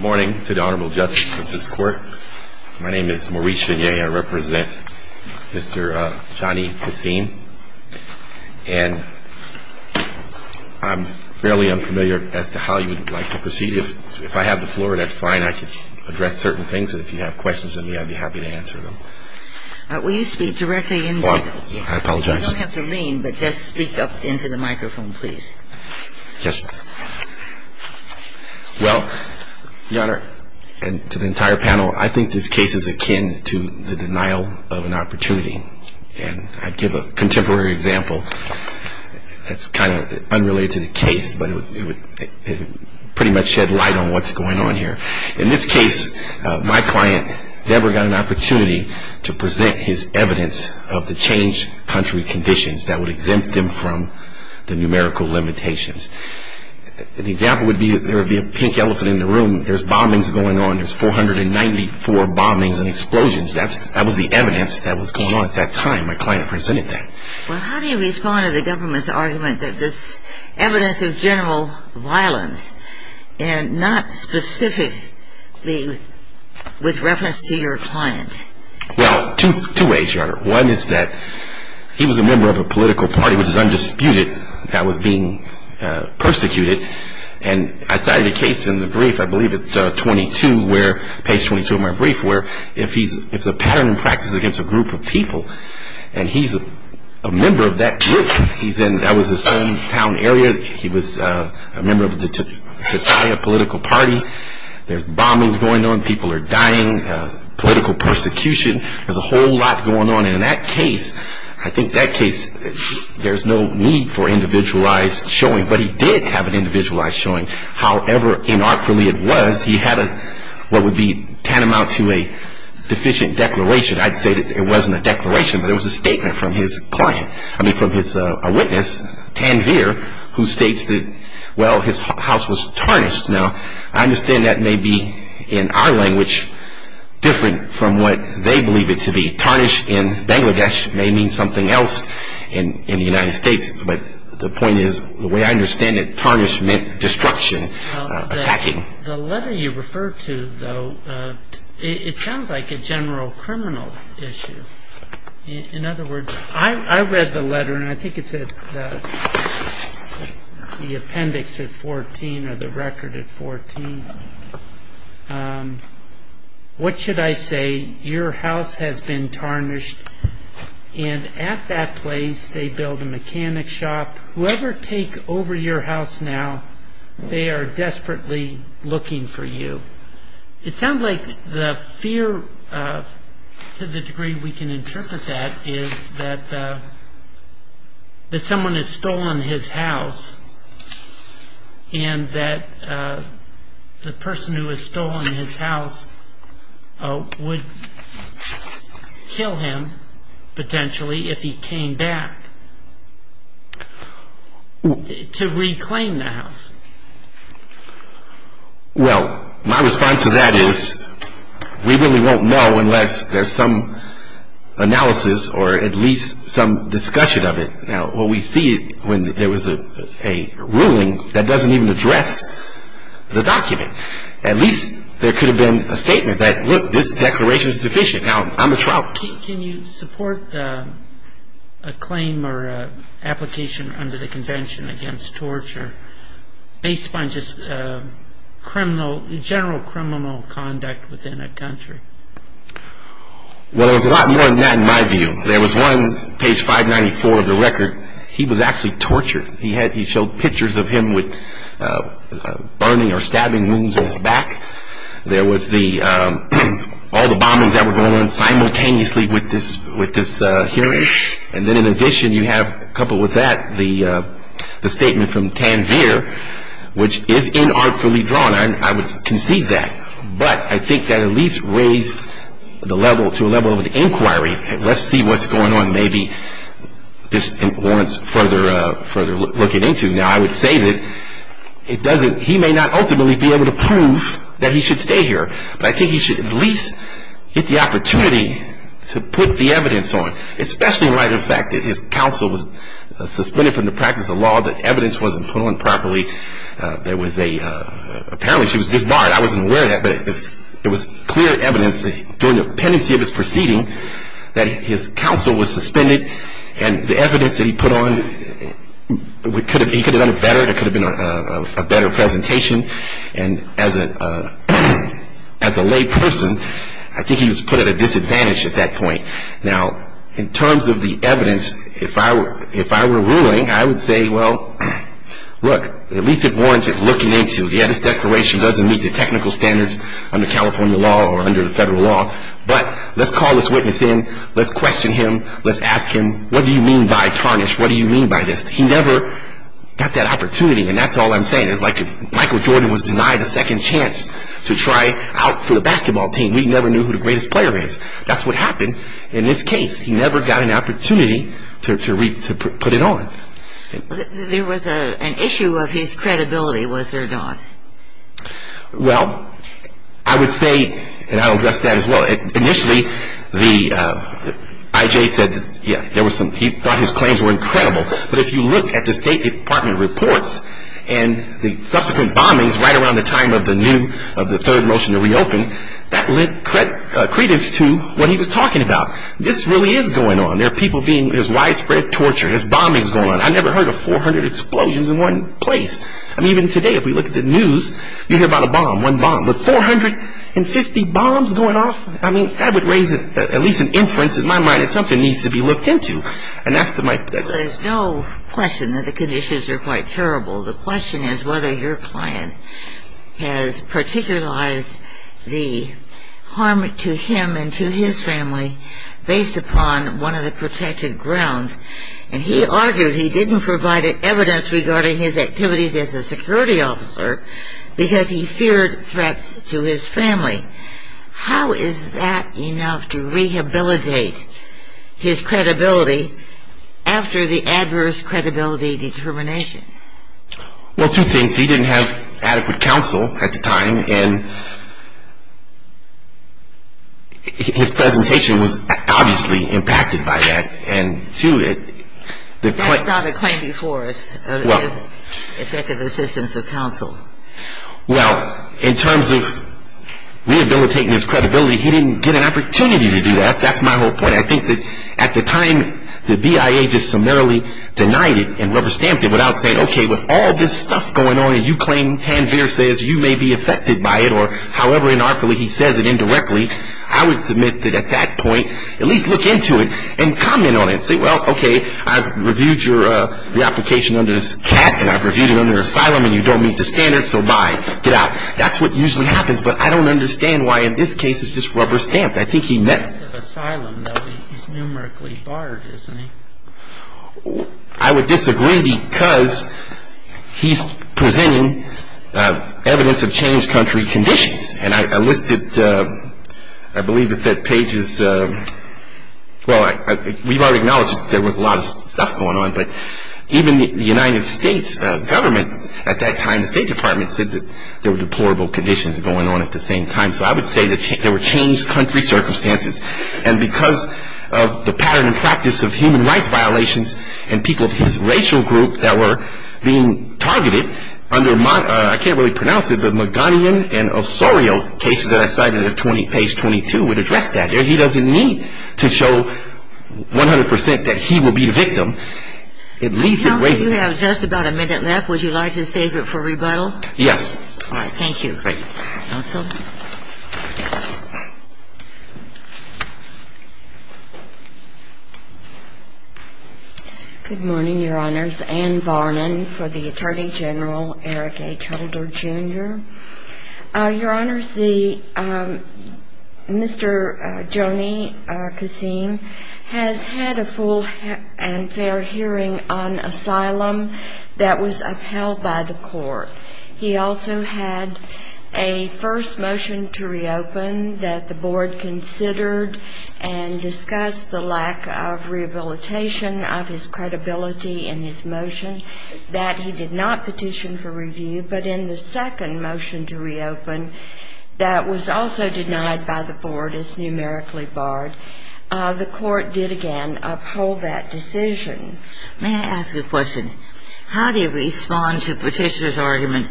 Morning to the Honorable Justice of this Court. My name is Maurice Chenier. I represent Mr. Johnny Kassim. And I'm fairly unfamiliar as to how you would like to proceed. If I have the floor, that's fine. I can address certain things. And if you have questions of me, I'd be happy to answer them. Will you speak directly into the microphone? I apologize. You don't have to lean, but just speak up into the microphone, please. Yes, sir. Well, Your Honor, and to the entire panel, I think this case is akin to the denial of an opportunity. And I'd give a contemporary example that's kind of unrelated to the case, but it would pretty much shed light on what's going on here. In this case, my client never got an opportunity to present his evidence of the changed country conditions that would exempt him from the numerical limitations. The example would be there would be a pink elephant in the room. There's bombings going on. There's 494 bombings and explosions. That was the evidence that was going on at that time. My client presented that. Well, how do you respond to the government's argument that this evidence of general violence and not specifically with reference to your client? Well, two ways, Your Honor. One is that he was a member of a political party, which is undisputed, that was being persecuted. And I cited a case in the brief, I believe it's page 22 of my brief, where it's a pattern in practice against a group of people. And he's a member of that group. That was his hometown area. He was a member of the Tetiah political party. There's bombings going on. People are dying. Political persecution. There's a whole lot going on. And in that case, I think that case, there's no need for individualized showing. But he did have an individualized showing. However inartful it was, he had what would be tantamount to a deficient declaration. I'd say that it wasn't a declaration, but it was a statement from his client. I mean, from his witness, Tanveer, who states that, well, his house was tarnished. Now, I understand that may be, in our language, different from what they believe it to be. Tarnished in Bangladesh may mean something else in the United States. But the point is, the way I understand it, tarnished meant destruction, attacking. The letter you refer to, though, it sounds like a general criminal issue. In other words, I read the letter, and I think it's the appendix at 14, or the record at 14. What should I say? Your house has been tarnished. And at that place, they build a mechanic shop. Whoever take over your house now, they are desperately looking for you. It sounds like the fear to the degree we can interpret that is that someone has stolen his house, and that the person who has stolen his house would kill him, potentially, if he came back to reclaim the house. Well, my response to that is, we really won't know unless there's some analysis, or at least some discussion of it. Now, what we see when there was a ruling that doesn't even address the document. At least there could have been a statement that, look, this declaration is deficient. Now, I'm a trial. Can you support a claim or application under the convention against torture, based upon just criminal, general criminal conduct within a country? Well, there's a lot more than that, in my view. There was one, page 594 of the record. He was actually tortured. He had, he showed pictures of him with burning or stabbing wounds on his back. There was the, all the bombings that were going on simultaneously with this hearing. And then in addition, you have, coupled with that, the statement from Tanvir, which is inartfully drawn. I would concede that, but I think that at least raised the level, to a level of inquiry. Let's see what's going on. Maybe this warrants further looking into. Now, I would say that it doesn't, he may not ultimately be able to prove that he should stay here, but I think he should at least get the opportunity to put the evidence on, especially in light of the fact that his counsel was suspended from the practice of law, that was a, apparently she was disbarred. I wasn't aware of that, but it was clear evidence during the pendency of his proceeding, that his counsel was suspended, and the evidence that he put on, he could have done it better, it could have been a better presentation. And as a lay person, I think he was put at a disadvantage at that point. Now, in terms of the evidence, if I were ruling, I would say, well, look, at least it warrants it looking into. Yeah, this declaration doesn't meet the technical standards under California law or under the federal law, but let's call this witness in, let's question him, let's ask him, what do you mean by tarnish? What do you mean by this? He never got that opportunity, and that's all I'm saying. It's like if Michael Jordan was denied a second chance to try out for the basketball team, we never knew who the greatest player is. That's what happened in this case. He never got an opportunity to put it on. There was an issue of his credibility, was there not? Well, I would say, and I'll address that as well, initially, the, I.J. said, yeah, there was some, he thought his claims were incredible, but if you look at the State Department reports and the subsequent bombings right around the time of the new, of the third motion to reopen, that led credence to what he was talking about. This really is going on. There are people being, there's widespread torture, there's bombings going on. I never heard of 400 explosions in one place. I mean, even today, if we look at the news, you hear about a bomb, one bomb, but 450 bombs going off? I mean, that would raise at least an inference in my mind that something needs to be looked into, and that's to my. There's no question that the conditions are quite terrible. The question is whether your client has particularized the harm to him and to his family based upon one of the protective grounds, and he argued he didn't provide evidence regarding his activities as a security officer because he feared threats to his family. How is that enough to rehabilitate his credibility after the adverse credibility determination? Well, two things. He didn't have adequate counsel at the time, and his presentation was obviously impacted by that, and two, it, the That's not a claim before us of effective assistance of counsel. Well, in terms of rehabilitating his credibility, he didn't get an opportunity to do that. That's my whole point. I think that at the time, the BIA just summarily denied it and rubber stamped it without saying, okay, with all this stuff going on, and you claim Tanvir says you may be affected by it, or however inartfully he says it indirectly, I would admit that at that point, at least look into it and comment on it. Say, well, okay, I've reviewed your re-application under this cap, and I've reviewed it under asylum, and you don't meet the standards, so bye. Get out. That's what usually happens, but I don't understand why in this case it's just rubber stamped. I think he meant Asylum, though he's numerically barred, isn't he? I would disagree because he's presenting evidence of changed country conditions, and I listed it, I believe it's at pages, well, we've already acknowledged there was a lot of stuff going on, but even the United States government at that time, the State Department, said that there were deplorable conditions going on at the same time, so I would say that there were changed country circumstances, and because of the pattern and practice of human rights violations and people of his racial group that were being targeted under, I can't really pronounce it, but Maganian and Osorio cases that I cited at page 22 would address that. He doesn't need to show 100% that he will be the victim. Counsel, you have just about a minute left. Would you like to save it for rebuttal? Yes. All right. Thank you. Great. Counsel? Good morning, Your Honors. Anne Varnon for the Attorney General, Eric H. Holder Jr. Your Honors, the, Mr. Joni Kasim has had a full and fair hearing on asylum that was upheld by the court. He also had a first motion to reopen that the board considered and discussed the lack of rehabilitation of his credibility in his motion that he did not petition for a second motion to reopen that was also denied by the board as numerically barred. The court did again uphold that decision. May I ask a question? How do you respond to Petitioner's argument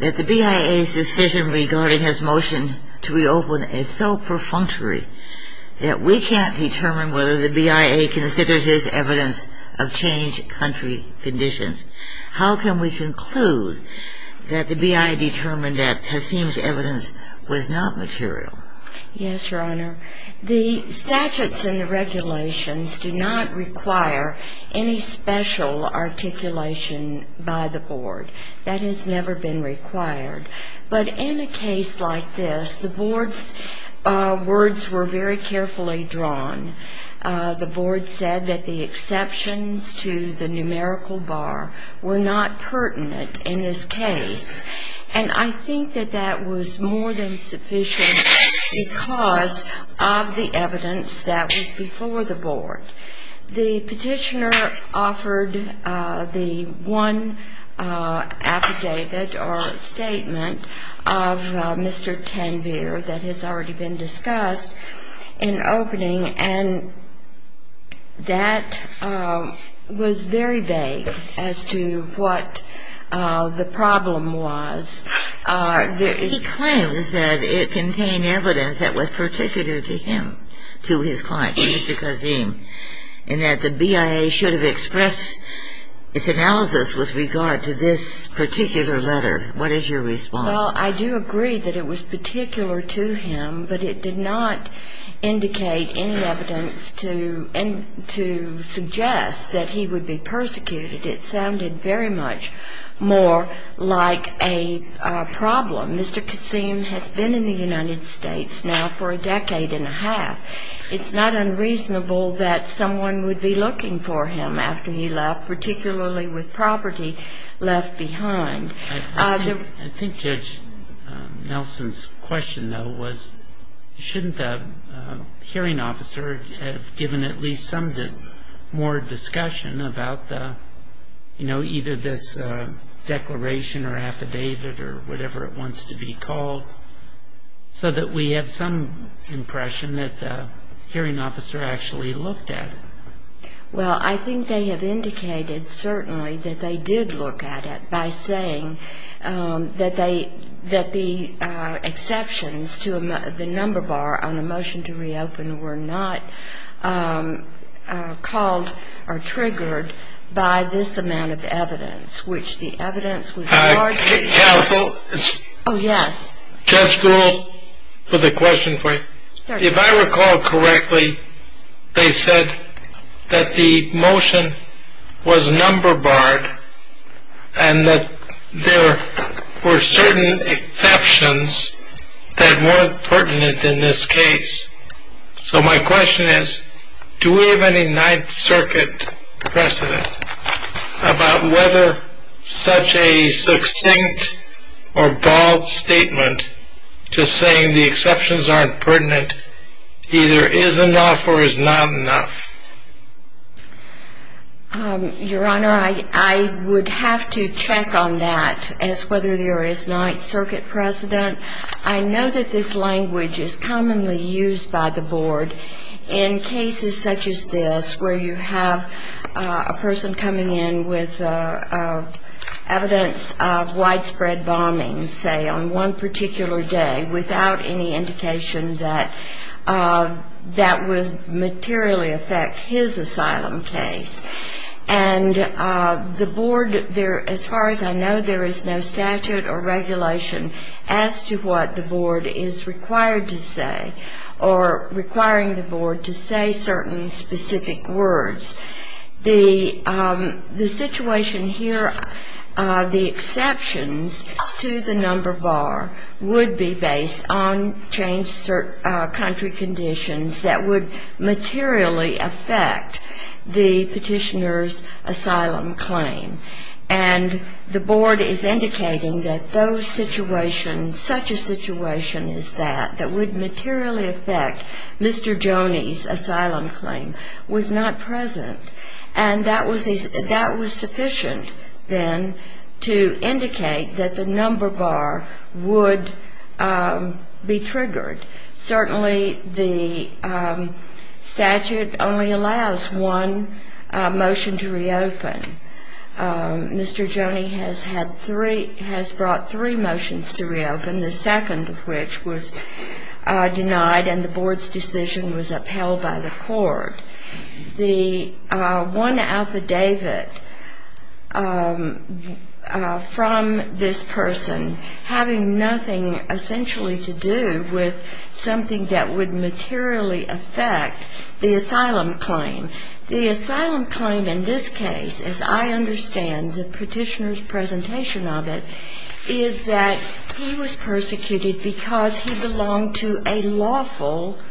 that the BIA's decision regarding his motion to reopen is so perfunctory that we can't determine whether the BIA considered his evidence of changed country conditions? How can we conclude that the BIA determined that Kasim's evidence was not material? Yes, Your Honor. The statutes and the regulations do not require any special articulation by the board. That has never been required. But in a case like this, the board's words were very carefully drawn. The board said that the exceptions to the numerical bar were not pertinent in this case. And I think that that was more than sufficient because of the evidence that was before the board. The petitioner offered the one affidavit or statement of Mr. Tanvir that has already been discussed in opening, and that was very vague as to what the problem was. He claims that it contained evidence that was particular to him, to his client, to Mr. Kasim, and that the BIA should have expressed its analysis with regard to this particular letter. What is your response? Well, I do agree that it was particular to him, but it did not indicate any evidence to suggest that he would be persecuted. It sounded very much more like a problem. Mr. Kasim has been in the United States now for a decade and a half. It's not unreasonable that someone would be looking for him after he left, particularly with property left behind. I think Judge Nelson's question, though, was shouldn't the hearing officer have given at least some more discussion about the, you know, either this declaration or affidavit or whatever it wants to be called, so that we have some impression that the hearing officer actually looked at it? Well, I think they have indicated certainly that they did look at it by saying that the exceptions to the number bar on a motion to reopen were not called or triggered by this amount of evidence, which the evidence was largely... Counsel? Oh, yes. Judge Gould, with a question for you. Certainly. If I recall correctly, they said that the motion was number barred and that there were certain exceptions that weren't pertinent in this case. So my question is, do we have any Ninth Circuit precedent about whether such a succinct or bald statement just saying the exceptions aren't pertinent either is enough or is not enough? Your Honor, I would have to check on that as to whether there is Ninth Circuit precedent. I know that this language is commonly used by the Board in cases such as this, where you have a person coming in with evidence of widespread bombing, say, on one particular day without any indication that that would materially affect his asylum case. And the Board, as far as I know, there is no statute or regulation as to what the Board is required to say or requiring the Board to say certain specific words. The situation here, the exceptions to the number bar would be based on changed country conditions that would materially affect the Petitioner's asylum claim. And the Board is indicating that those situations, such a situation as that, that would materially affect Mr. Joni's asylum claim, was not present. And that was sufficient, then, to indicate that the number bar would be triggered. Certainly the statute only allows one motion to reopen. Mr. Joni has had three, has brought three motions to reopen, the second of which was denied and the Board's decision was upheld by the Court. The one affidavit from this person having nothing essentially to do with something that would materially affect the asylum claim. The asylum claim in this case, as I understand the Petitioner's presentation of it, is that he was persecuted because he was a member of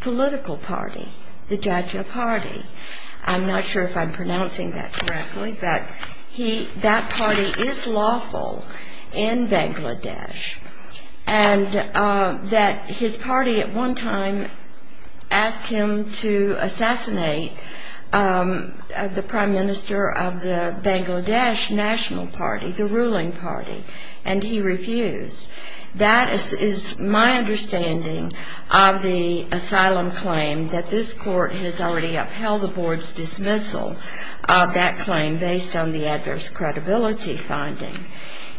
the Jaja party, the Jaja party. I'm not sure if I'm pronouncing that correctly, but that party is lawful in Bangladesh. And that his party at one time asked him to assassinate the Prime Minister of the Bangladesh National Party, the ruling party, and he refused. That is my understanding of the asylum claim, that this Court has already upheld the Board's dismissal of that claim based on the adverse credibility finding.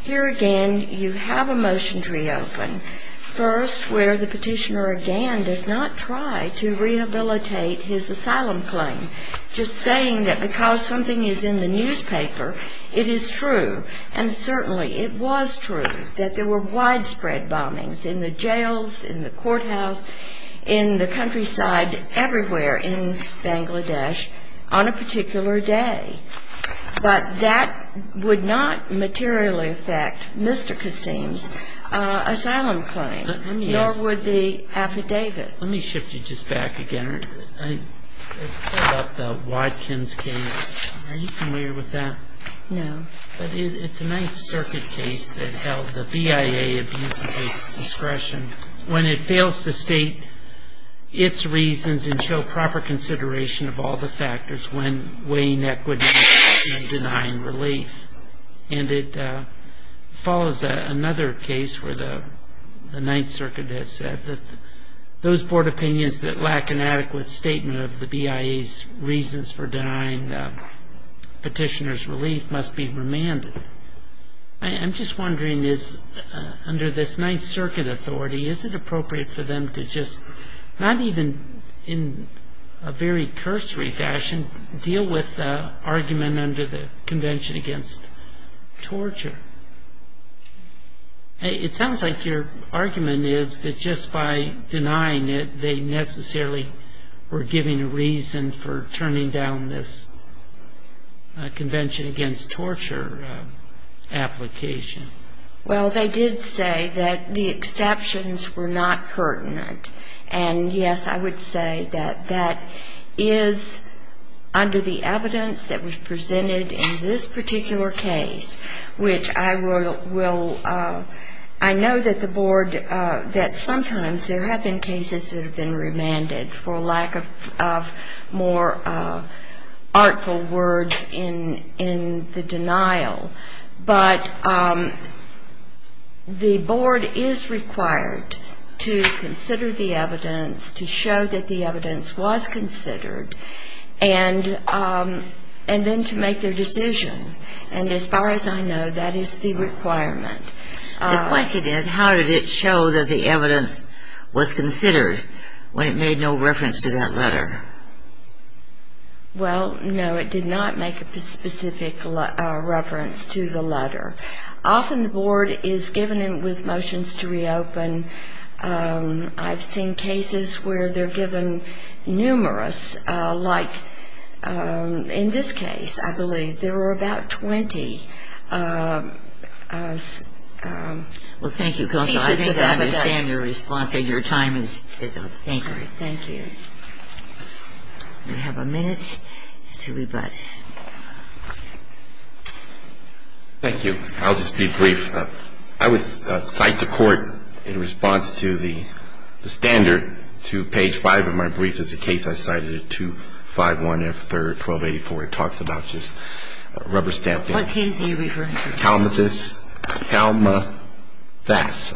Here again, you have a motion to reopen. First, where the Petitioner again does not try to rehabilitate his asylum claim. Just saying that because something is in the newspaper, it is true, and certainly it was true, that there were widespread bombings in the jails, in the courthouse, in the countryside, everywhere in Bangladesh on a particular day. But that would not materially affect Mr. Kassim's asylum claim, nor would the affidavit. Let me shift you just back again. I pulled up the Watkins case. Are you familiar with that? No. But it's a Ninth Circuit case that held the BIA abuses its discretion when it fails to state its reasons and show proper consideration of all the factors when weighing equity and denying relief. And it follows another case where the Ninth Circuit has said that those Board opinions that lack an adequate statement of the BIA's reasons for denying the Petitioner's relief must be remanded. I'm just wondering, under this Ninth Circuit authority, is it appropriate for them to just, not even in a very cursory fashion, deal with the argument under the Convention Against Torture? It sounds like your argument is that just by denying it, they necessarily were giving a reason for turning down this Convention Against Torture application. Well, they did say that the exceptions were not pertinent. And, yes, I would say that that is under the evidence that was presented in this particular case, which I will, I know that the Board, that sometimes there have been cases that have been remanded for lack of more artful words in the denial. But the Board is required to consider the evidence, to show that the evidence was considered, and then to make their decision. And as far as I know, that is the requirement. The question is, how did it show that the evidence was considered when it made no reference to that letter? Well, no, it did not make a specific reference to the letter. Often the Board is given with motions to reopen. I've seen cases where they're given numerous, like in this case, I believe, there were about 20 pieces of evidence. Well, thank you, Counsel. I understand your response, and your time is up. Thank you. Thank you. We have a minute to rebut. Thank you. I'll just be brief. I would cite to court, in response to the standard page 5 of my brief, there's a case I cited at 251 F. 3rd, 1284. It talks about just rubber stamping. What case are you referring to? Kalmathas. The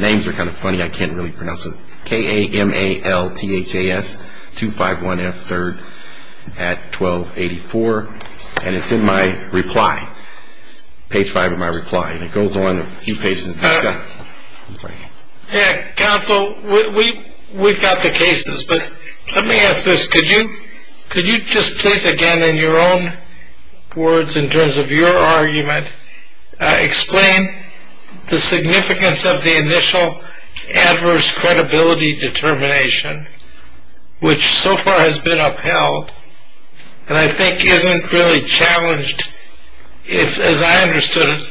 names are kind of funny. I can't really pronounce them. K-A-M-A-L-T-H-A-S. 251 F. 3rd at 1284. And it's in my reply, page 5 of my reply. And it goes on a few pages. Counsel, we've got the cases, but let me ask this. Could you just please, again, in your own words, in terms of your argument, explain the significance of the initial adverse credibility determination, which so far has been upheld, and I think isn't really challenged, as I understood it,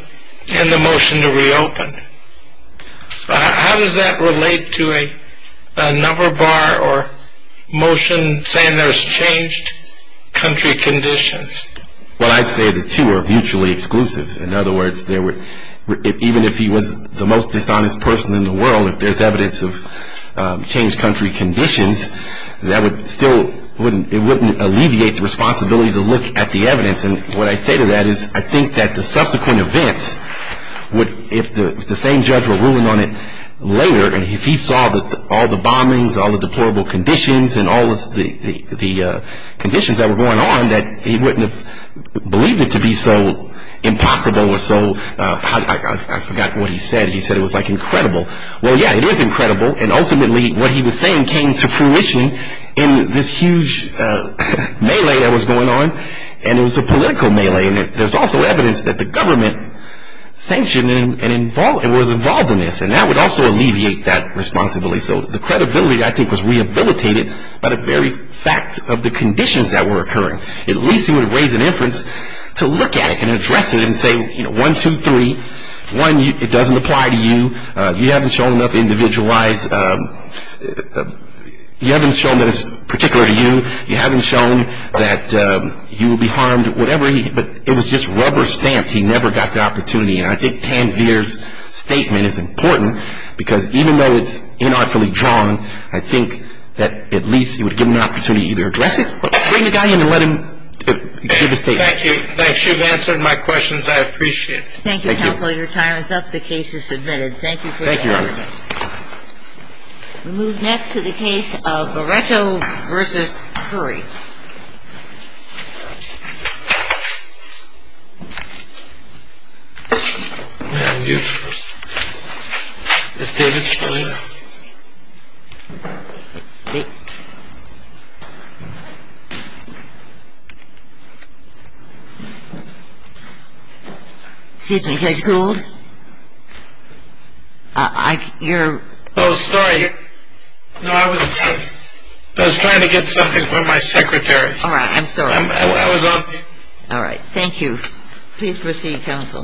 and the motion to reopen. How does that relate to a number bar or motion saying there's changed country conditions? Well, I'd say the two are mutually exclusive. In other words, even if he was the most dishonest person in the world, if there's evidence of changed country conditions, that would still, And what I say to that is I think that the subsequent events, if the same judge were ruling on it later, and if he saw all the bombings, all the deplorable conditions, and all the conditions that were going on, that he wouldn't have believed it to be so impossible or so, I forgot what he said. He said it was like incredible. Well, yeah, it is incredible. And ultimately, what he was saying came to fruition in this huge melee that was going on. And it was a political melee. And there's also evidence that the government sanctioned and was involved in this, and that would also alleviate that responsibility. So the credibility, I think, was rehabilitated by the very fact of the conditions that were occurring. At least he would have raised an inference to look at it and address it and say, you know, one, two, three. One, it doesn't apply to you. You haven't shown enough individualized, you haven't shown that it's particular to you. You haven't shown that you will be harmed, whatever. But it was just rubber stamped. He never got the opportunity. And I think Tanvir's statement is important because even though it's inartfully drawn, I think that at least it would give him an opportunity to either address it or bring the guy in and let him give his statement. Thank you. Thanks. You've answered my questions. I appreciate it. Thank you, counsel. The case is submitted. Thank you for your time. Thank you, Your Honor. We move next to the case of Baretto v. Curry. Excuse me, Judge Gould? You're... Oh, sorry. No, I was trying to get something from my secretary. All right. I'm sorry. I was on... All right. Thank you. Please proceed, counsel.